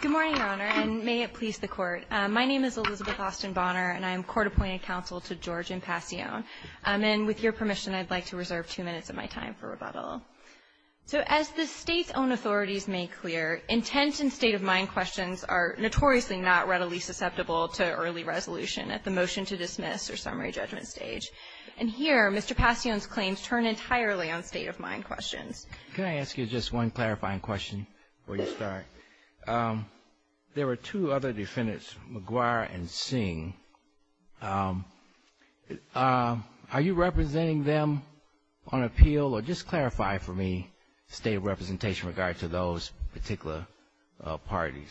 Good morning, Your Honor, and may it please the Court. My name is Elizabeth Austin Bonner, and I am court-appointed counsel to George M. Pasion. And with your permission, I'd like to reserve two minutes of my time for rebuttal. So as the State's own authorities made clear, intent and state-of-mind questions are notoriously not readily susceptible to early resolution at the motion-to-dismiss or summary judgment stage. And here, Mr. Pasion's claims turn entirely on state-of-mind questions. Can I ask you just one clarifying question before you start? There were two other defendants, McGuire and Singh. Are you representing them on appeal? Or just clarify for me state of representation with regard to those particular parties.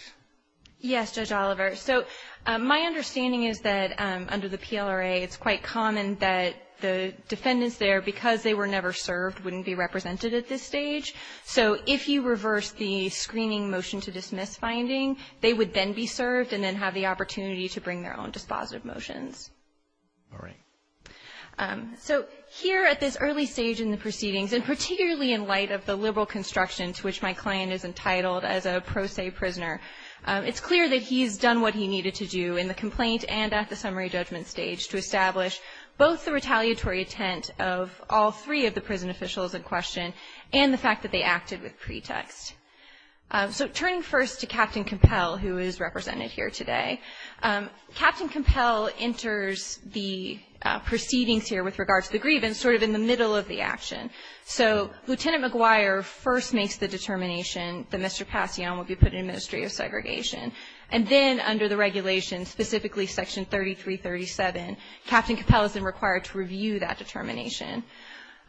Yes, Judge Oliver. So my understanding is that under the PLRA, it's quite common that the defendants there, because they were never served, wouldn't be represented at this stage. So if you reverse the screening motion-to-dismiss finding, they would then be served and then have the opportunity to bring their own dispositive motions. All right. So here at this early stage in the proceedings, and particularly in light of the liberal construction to which my client is entitled as a pro se prisoner, it's clear that he's done what he needed to do in the complaint and at the summary judgment stage to establish both the retaliatory intent of all three of the prison officials in question and the fact that they acted with pretext. So turning first to Captain Compell, who is represented here today, Captain Compell enters the proceedings here with regard to the grievance sort of in the middle of the action. So Lieutenant McGuire first makes the determination that Mr. Pasion will be put in the Ministry of Segregation. And then under the regulation, specifically Section 3337, Captain Compell is then required to review that determination.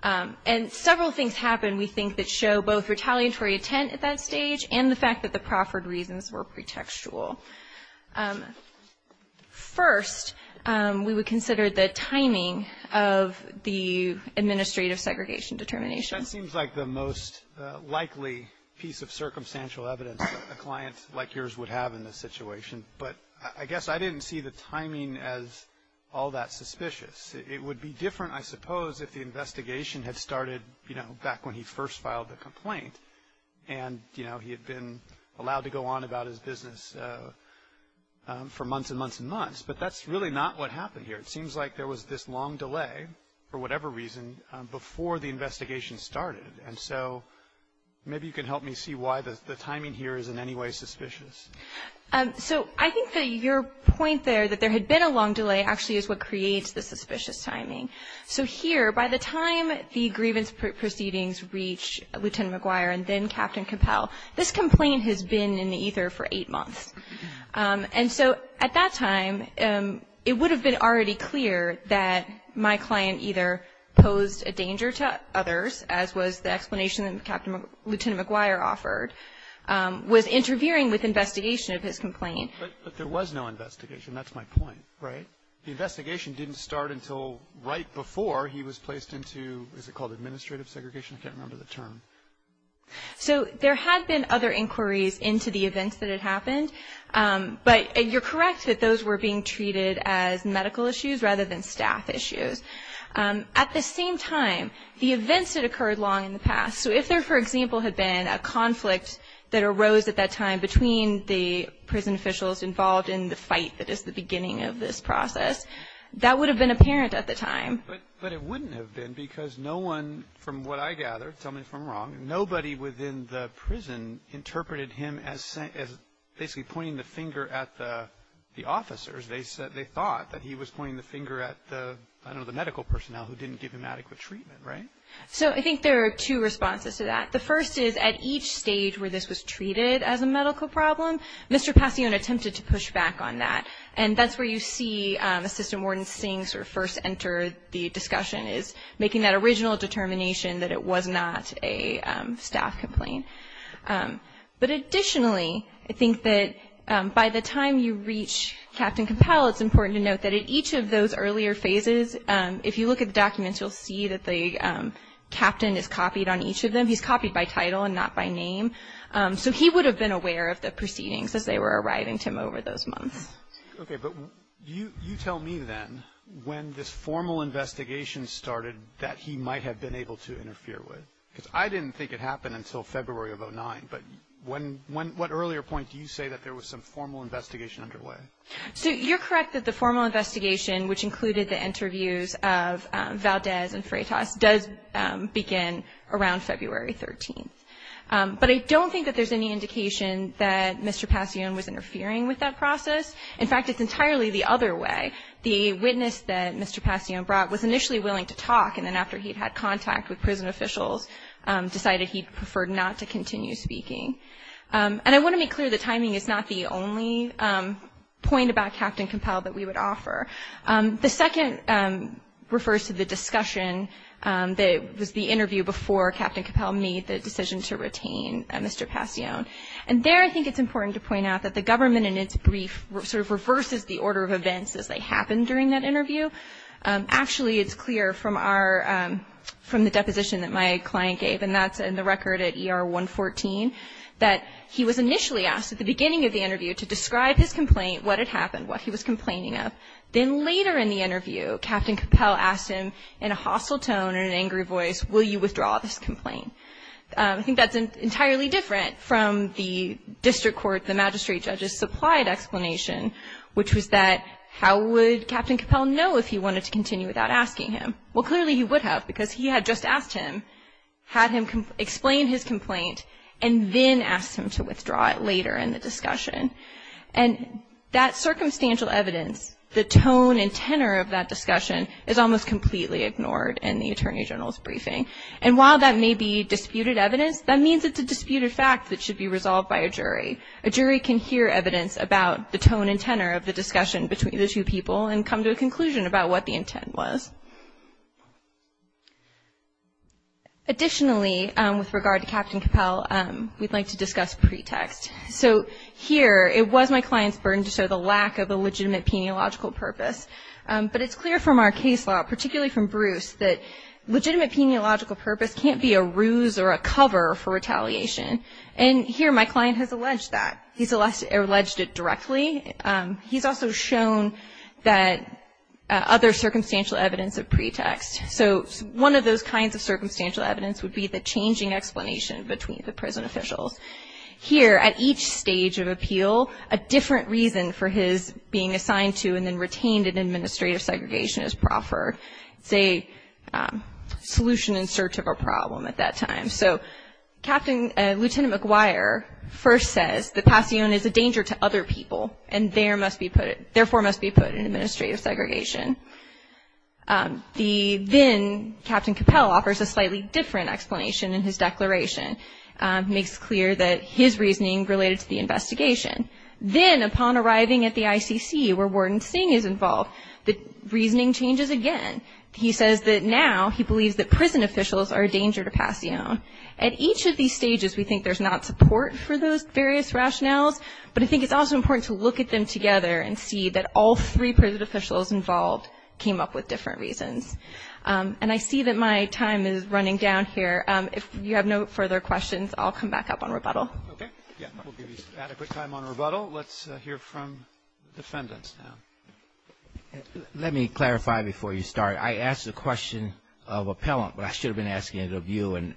And several things happen, we think, that show both retaliatory intent at that stage and the fact that the proffered reasons were pretextual. First, we would consider the timing of the administrative segregation determination. That seems like the most likely piece of circumstantial evidence a client like yours would have in this situation. But I guess I didn't see the timing as all that suspicious. It would be different, I suppose, if the investigation had started, you know, back when he first filed the complaint and, you know, he had been allowed to go on about his business for months and months and months. But that's really not what happened here. It seems like there was this long delay, for whatever reason, before the investigation started. And so maybe you can help me see why the timing here is in any way suspicious. So I think that your point there, that there had been a long delay, actually is what creates the suspicious timing. So here, by the time the grievance proceedings reach Lieutenant McGuire and then Captain Compell, this complaint has been in the ether for eight months. And so at that time, it would have been already clear that my client either posed a danger to others, as was the explanation that Lieutenant McGuire offered, was interfering with investigation of his complaint. But there was no investigation. That's my point, right? The investigation didn't start until right before he was placed into, is it called administrative segregation? I can't remember the term. So there had been other inquiries into the events that had happened. But you're correct that those were being treated as medical issues rather than staff issues. At the same time, the events had occurred long in the past. So if there, for example, had been a conflict that arose at that time between the prison officials involved in the fight that is the beginning of this process, that would have been apparent at the time. But it wouldn't have been because no one, from what I gather, tell me if I'm wrong, nobody within the prison interpreted him as basically pointing the finger at the officers. They thought that he was pointing the finger at, I don't know, the medical personnel who didn't give him adequate treatment, right? So I think there are two responses to that. The first is at each stage where this was treated as a medical problem, Mr. Passione attempted to push back on that. And that's where you see Assistant Warden Singh sort of first enter the discussion, is making that original determination that it was not a staff complaint. But additionally, I think that by the time you reach Captain Compel, it's important to note that at each of those earlier phases, if you look at the documents, you'll see that the captain is copied on each of them. He's copied by title and not by name. So he would have been aware of the proceedings as they were arriving to him over those months. Okay, but you tell me then when this formal investigation started that he might have been able to interfere with. Because I didn't think it happened until February of 2009. But what earlier point do you say that there was some formal investigation underway? So you're correct that the formal investigation, which included the interviews of Valdez and Freitas, does begin around February 13th. But I don't think that there's any indication that Mr. Passione was interfering with that process. In fact, it's entirely the other way. The witness that Mr. Passione brought was initially willing to talk, and then after he'd had contact with prison officials, decided he preferred not to continue speaking. And I want to make clear that timing is not the only point about Captain Compel that we would offer. The second refers to the discussion that was the interview before Captain Compel made the decision to retain Mr. Passione. And there I think it's important to point out that the government, in its brief, sort of reverses the order of events as they happen during that interview. Actually, it's clear from the deposition that my client gave, and that's in the record at ER 114, that he was initially asked at the beginning of the interview to describe his complaint, what had happened, what he was complaining of. Then later in the interview, Captain Compel asked him in a hostile tone and an angry voice, will you withdraw this complaint? I think that's entirely different from the district court, the magistrate judge's supplied explanation, which was that how would Captain Compel know if he wanted to continue without asking him? Well, clearly he would have, because he had just asked him, had him explain his complaint, and then asked him to withdraw it later in the discussion. And that circumstantial evidence, the tone and tenor of that discussion, is almost completely ignored in the Attorney General's briefing. And while that may be disputed evidence, that means it's a disputed fact that should be resolved by a jury. A jury can hear evidence about the tone and tenor of the discussion between the two people and come to a conclusion about what the intent was. Additionally, with regard to Captain Compel, we'd like to discuss pretext. So here, it was my client's burden to show the lack of a legitimate peniological purpose. But it's clear from our case law, particularly from Bruce, that legitimate peniological purpose can't be a ruse or a cover for retaliation. And here my client has alleged that. He's alleged it directly. He's also shown that other circumstantial evidence of pretext. So one of those kinds of circumstantial evidence would be the changing explanation between the prison officials. Here, at each stage of appeal, a different reason for his being assigned to and then retained in administrative segregation is proffered. It's a solution in search of a problem at that time. So Lieutenant McGuire first says that Passione is a danger to other people and therefore must be put in administrative segregation. Then Captain Compel offers a slightly different explanation in his declaration. He makes clear that his reasoning related to the investigation. Then, upon arriving at the ICC where Warden Singh is involved, the reasoning changes again. He says that now he believes that prison officials are a danger to Passione. At each of these stages, we think there's not support for those various rationales, but I think it's also important to look at them together and see that all three prison officials involved came up with different reasons. And I see that my time is running down here. If you have no further questions, I'll come back up on rebuttal. Okay. Yeah, we'll give you some adequate time on rebuttal. Let's hear from the defendants now. Let me clarify before you start. I asked the question of appellant, but I should have been asking it of you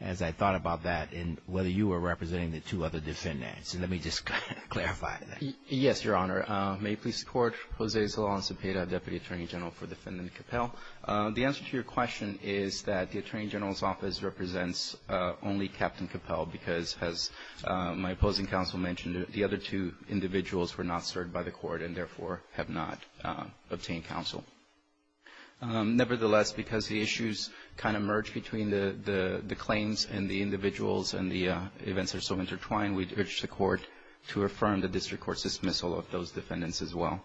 as I thought about that and whether you were representing the two other defendants. Let me just clarify that. Yes, Your Honor. May it please the Court. Jose Solan Sepeda, Deputy Attorney General for Defendant Compel. The answer to your question is that the Attorney General's Office represents only Captain Compel because, as my opposing counsel mentioned, the other two individuals were not served by the court and, therefore, have not obtained counsel. Nevertheless, because the issues kind of merge between the claims and the individuals and the events are so intertwined, we'd urge the Court to affirm the district court's dismissal of those defendants as well.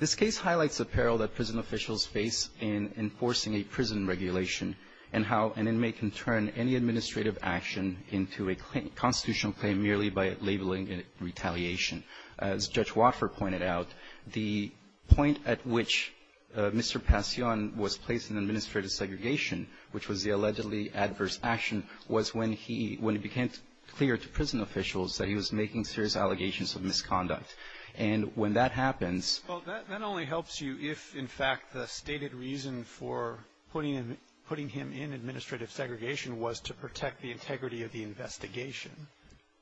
This case highlights the peril that prison officials face in enforcing a prison regulation and how an inmate can turn any administrative action into a constitutional claim merely by labeling it retaliation. As Judge Watford pointed out, the point at which Mr. Passione was placed in administrative segregation, which was the allegedly adverse action, was when he became clear to prison officials that he was making serious allegations of misconduct. And when that happens — Well, that only helps you if, in fact, the stated reason for putting him in administrative segregation was to protect the integrity of the investigation.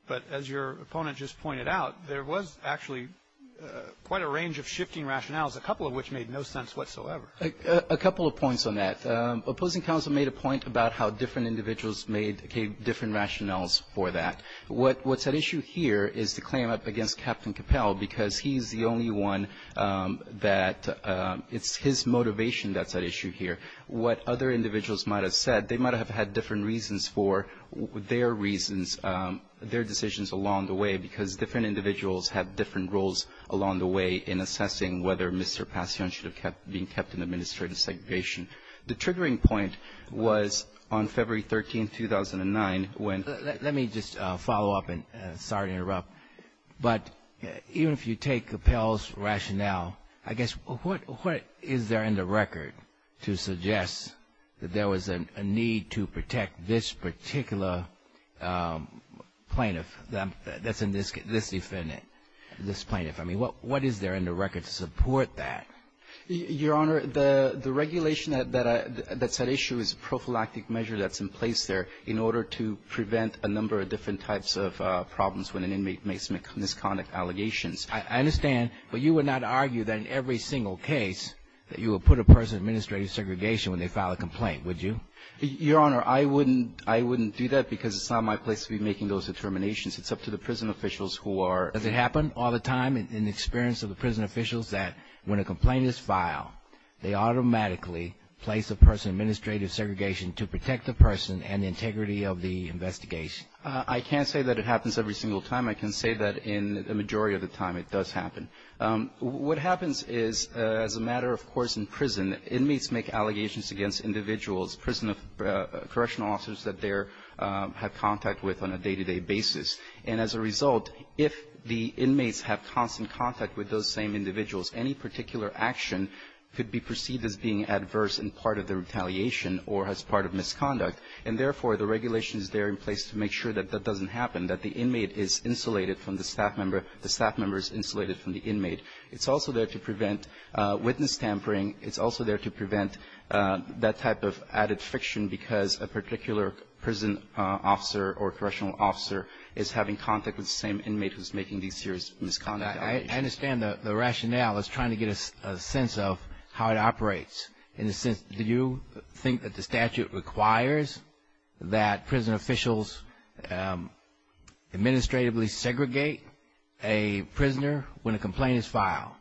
But as your opponent just pointed out, there was actually quite a range of shifting rationales, a couple of which made no sense whatsoever. A couple of points on that. Opposing counsel made a point about how different individuals made different rationales for that. What's at issue here is the claim up against Captain Capell, because he's the only one that — it's his motivation that's at issue here. What other individuals might have said, they might have had different reasons for their reasons, their decisions along the way, because different individuals have different roles along the way in assessing whether Mr. Passione should have been kept in administrative segregation. The triggering point was on February 13, 2009, when — Let me just follow up, and sorry to interrupt. But even if you take Capell's rationale, I guess, what is there in the record to suggest that there was a need to protect this particular plaintiff, this defendant, this plaintiff? I mean, what is there in the record to support that? Your Honor, the regulation that's at issue is a prophylactic measure that's in place there in order to prevent a number of different types of problems when an inmate makes misconduct allegations. I understand. But you would not argue that in every single case that you would put a person in administrative segregation when they file a complaint, would you? Your Honor, I wouldn't do that because it's not my place to be making those determinations. It's up to the prison officials who are — Does it happen all the time in the experience of the prison officials that when a complaint is filed, they automatically place a person in administrative segregation to protect the person and the integrity of the investigation? I can't say that it happens every single time. I can say that in the majority of the time it does happen. What happens is, as a matter of course in prison, inmates make allegations against individuals, prison correctional officers that they have contact with on a day-to-day basis. And as a result, if the inmates have constant contact with those same individuals, any particular action could be perceived as being adverse and part of the retaliation or as part of misconduct. And therefore, the regulation is there in place to make sure that that doesn't happen, that the inmate is insulated from the staff member, the staff member is insulated from the inmate. It's also there to prevent witness tampering. It's also there to prevent that type of added friction because a particular prison officer or correctional officer is having contact with the same inmate who's making these serious misconduct allegations. I understand the rationale is trying to get a sense of how it operates. In a sense, do you think that the statute requires that prison officials administratively segregate a prisoner when a complaint is filed?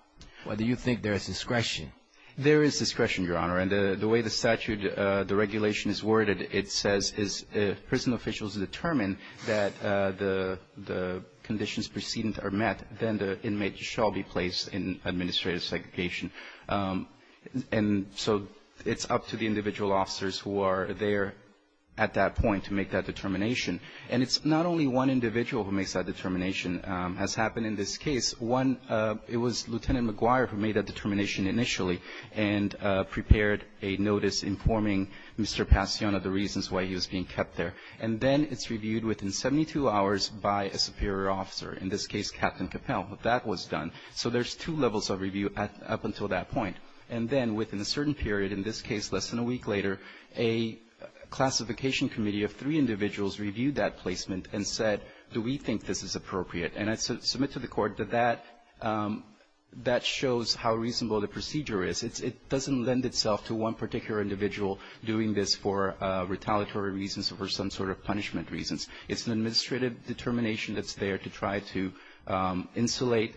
Or do you think there is discretion? There is discretion, Your Honor, and the way the statute, the regulation is worded, it says if prison officials determine that the conditions preceding are met, then the inmate shall be placed in administrative segregation. And so it's up to the individual officers who are there at that point to make that determination. And it's not only one individual who makes that determination. As happened in this case, one, it was Lieutenant McGuire who made that determination initially and prepared a notice informing Mr. Passione of the reasons why he was being kept there. And then it's reviewed within 72 hours by a superior officer, in this case Captain Capel, but that was done. So there's two levels of review up until that point. And then within a certain period, in this case less than a week later, a classification committee of three individuals reviewed that placement and said, do we think this is appropriate? And I submit to the Court that that shows how reasonable the procedure is. It doesn't lend itself to one particular individual doing this for retaliatory reasons or for some sort of punishment reasons. It's an administrative determination that's there to try to insulate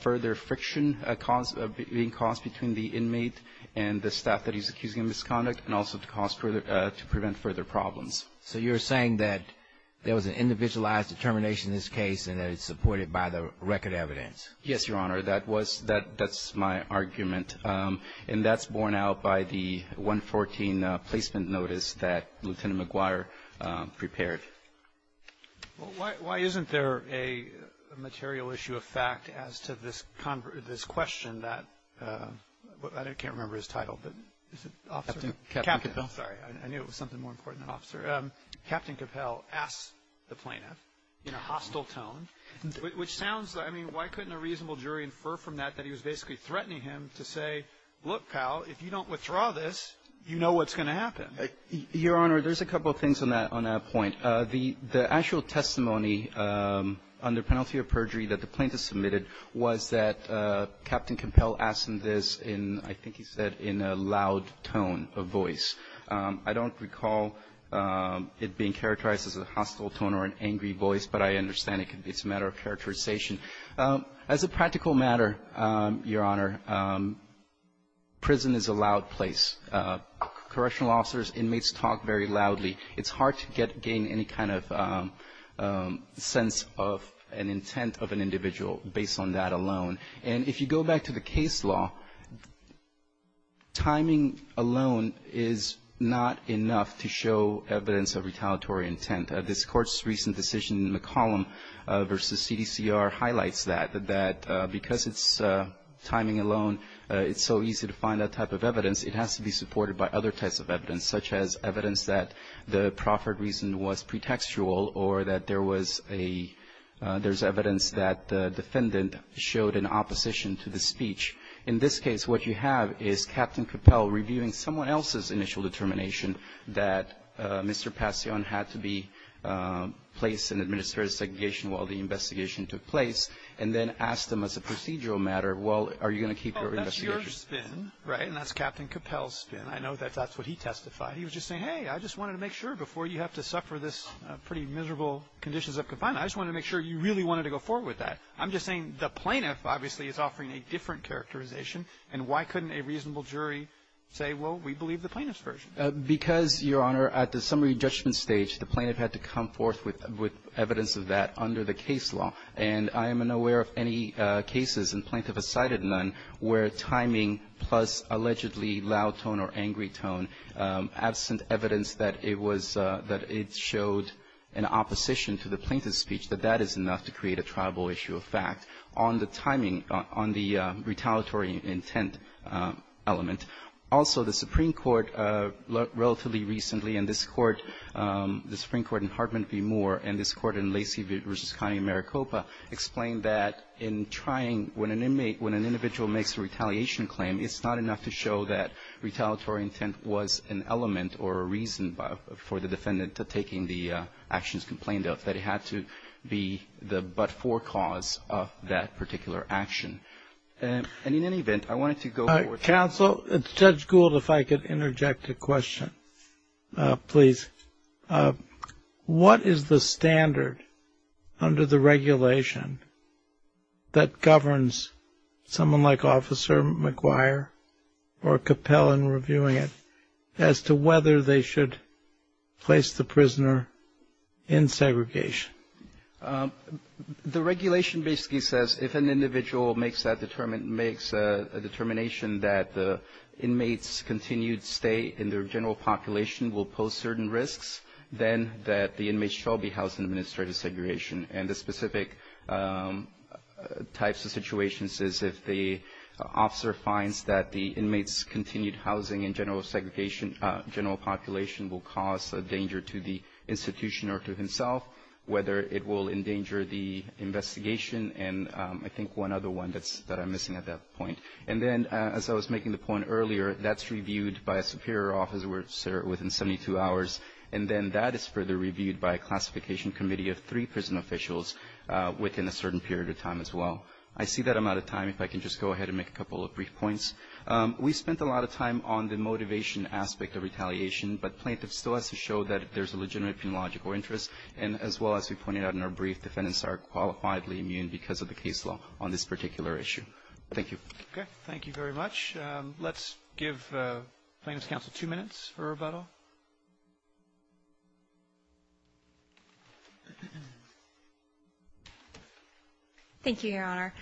further friction being caused between the inmate and the staff that he's accusing of misconduct and also to cause further to prevent further problems. So you're saying that there was an individualized determination in this case and that it's supported by the record evidence? Yes, Your Honor. That was, that's my argument. And that's borne out by the 114 placement notice that Lieutenant McGuire prepared. Why isn't there a material issue of fact as to this question that, I can't remember his title, but is it officer? Captain Capel. Sorry, I knew it was something more important than officer. Captain Capel asked the plaintiff in a hostile tone, which sounds, I mean, why couldn't a reasonable jury infer from that that he was basically threatening him to say, look, pal, if you don't withdraw this, you know what's going to happen. Your Honor, there's a couple of things on that point. The actual testimony under penalty of perjury that the plaintiff submitted was that I don't recall it being characterized as a hostile tone or an angry voice, but I understand it's a matter of characterization. As a practical matter, Your Honor, prison is a loud place. Correctional officers, inmates talk very loudly. It's hard to gain any kind of sense of an intent of an individual based on that alone. And if you go back to the case law, timing alone is not enough to show evidence of retaliatory intent. This Court's recent decision in the column versus CDCR highlights that, that because it's timing alone, it's so easy to find that type of evidence, it has to be supported by other types of evidence, such as evidence that the proffered reason was pretextual or that there was a – there's evidence that the defendant showed an opposition to the speech. In this case, what you have is Captain Coppell reviewing someone else's initial determination that Mr. Passione had to be placed in administrative segregation while the investigation took place, and then asked him as a procedural matter, well, are you going to keep your investigation? Oh, that's your spin, right? And that's Captain Coppell's spin. I know that that's what he testified. He was just saying, hey, I just wanted to make sure before you have to suffer this pretty miserable conditions of confinement, I just wanted to make sure you really wanted to go forward with that. I'm just saying the plaintiff, obviously, is offering a different characterization, and why couldn't a reasonable jury say, well, we believe the plaintiff's version? Because, Your Honor, at the summary judgment stage, the plaintiff had to come forth with evidence of that under the case law, and I am unaware of any cases in Plaintiff Assided None where timing plus allegedly loud tone or angry tone, absent evidence that it was that it showed an opposition to the plaintiff's speech, that that is enough to create a triable issue of fact on the timing, on the retaliatory intent element. Also, the Supreme Court relatively recently, and this Court, the Supreme Court in Hartman v. Moore, and this Court in Lacey v. Coney, Maricopa, explained that in trying when an inmate, when an individual makes a retaliation claim, it's not enough to show that retaliatory intent was an element or a reason for the defendant to taking the actions complained of, that it had to be the but-for cause of that particular action. And in any event, I wanted to go forward. Counsel, Judge Gould, if I could interject a question, please. What is the standard under the regulation that governs someone like Officer McGuire or Capel in reviewing it as to whether they should place the prisoner in segregation? The regulation basically says if an individual makes a determination that the inmates' continued stay in their general population will pose certain risks, then that the inmates shall be housed in administrative segregation. And the specific types of situations is if the officer finds that the inmates' continued housing in general segregation, general population will cause a danger to the institution or to himself, whether it will endanger the investigation, and I think one other one that's that I'm missing at that point, and then as I was making the point earlier, that's reviewed by a superior officer within 72 hours, and then that is further reviewed by a classification committee of three prison officials within a certain period of time as well. I see that I'm out of time. If I can just go ahead and make a couple of brief points. We spent a lot of time on the motivation aspect of retaliation, but plaintiff still has to Okay. Thank you very much. Let's give plaintiff's counsel two minutes for rebuttal. Thank you, Your Honor.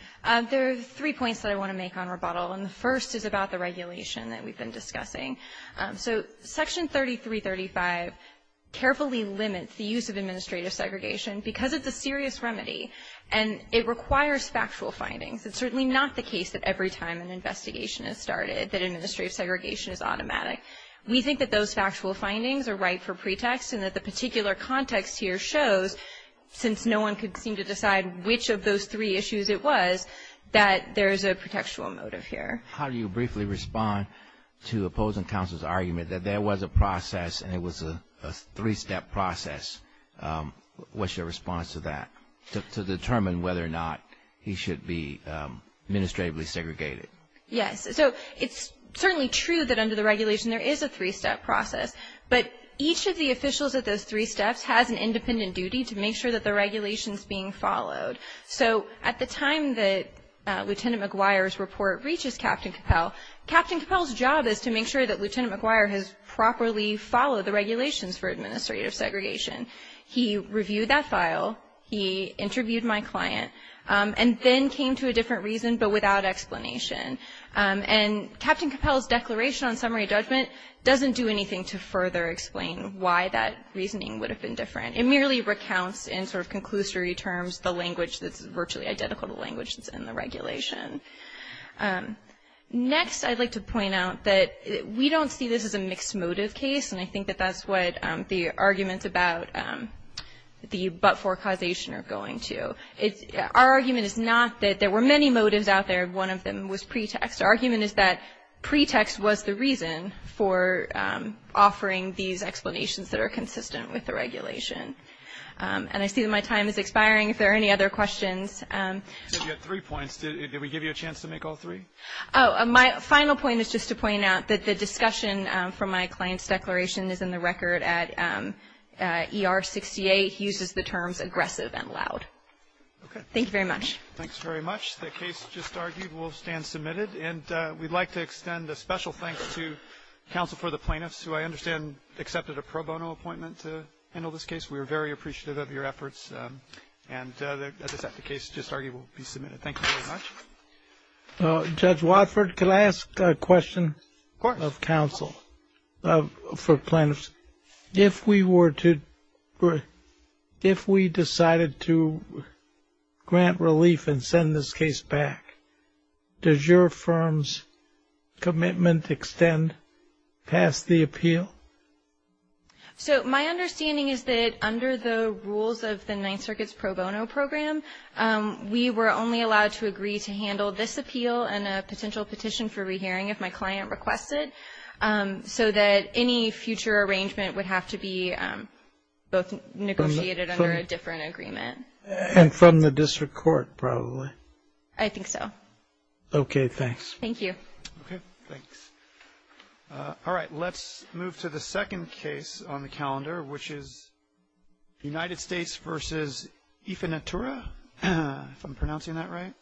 There are three points that I want to make on rebuttal, and the first is about the regulation that we've been discussing. So Section 3335 carefully limits the use of administrative segregation because it's a serious remedy, and it requires factual findings. It's certainly not the case that every time an investigation is started that administrative segregation is automatic. We think that those factual findings are right for pretext and that the particular context here shows, since no one could seem to decide which of those three issues it was, that there is a pretextual motive here. How do you briefly respond to opposing counsel's argument that there was a process and it was a three-step process? What's your response to that, to determine whether or not he should be administratively segregated? Yes. So it's certainly true that under the regulation there is a three-step process, but each of the officials at those three steps has an independent duty to make sure that the regulation is being followed. So at the time that Lieutenant McGuire's report reaches Captain Capell, Captain Capell's job is to make sure that Lieutenant McGuire has properly followed the regulations for administrative segregation. He reviewed that file, he interviewed my client, and then came to a different reason but without explanation. And Captain Capell's declaration on summary judgment doesn't do anything to further explain why that reasoning would have been different. It merely recounts in sort of conclusory terms the language that's virtually identical to the language that's in the regulation. Next, I'd like to point out that we don't see this as a mixed motive case, and I think that that's what the arguments about the but-for causation are going to. Our argument is not that there were many motives out there and one of them was pretext. Our argument is that pretext was the reason for offering these explanations that are consistent with the regulation. And I see that my time is expiring. If there are any other questions. You had three points. Did we give you a chance to make all three? My final point is just to point out that the discussion from my client's declaration is in the record at ER 68. He uses the terms aggressive and loud. Okay. Thank you very much. Thanks very much. The case just argued will stand submitted. And we'd like to extend a special thanks to counsel for the plaintiffs who I understand accepted a pro bono appointment to handle this case. We are very appreciative of your efforts. And as I said, the case just argued will be submitted. Thank you very much. Judge Watford, can I ask a question of counsel for plaintiffs? If we were to – if we decided to grant relief and send this case back, does your firm's commitment extend past the appeal? So my understanding is that under the rules of the Ninth Circuit's pro bono program, we were only allowed to agree to handle this appeal and a potential petition for re-hearing if my client requested, so that any future arrangement would have to be both negotiated under a different agreement. And from the district court, probably. I think so. Okay. Thanks. Thank you. Okay. Thanks. All right. Let's move to the second case on the calendar, which is United States v. Ifinitura, if I'm pronouncing that right.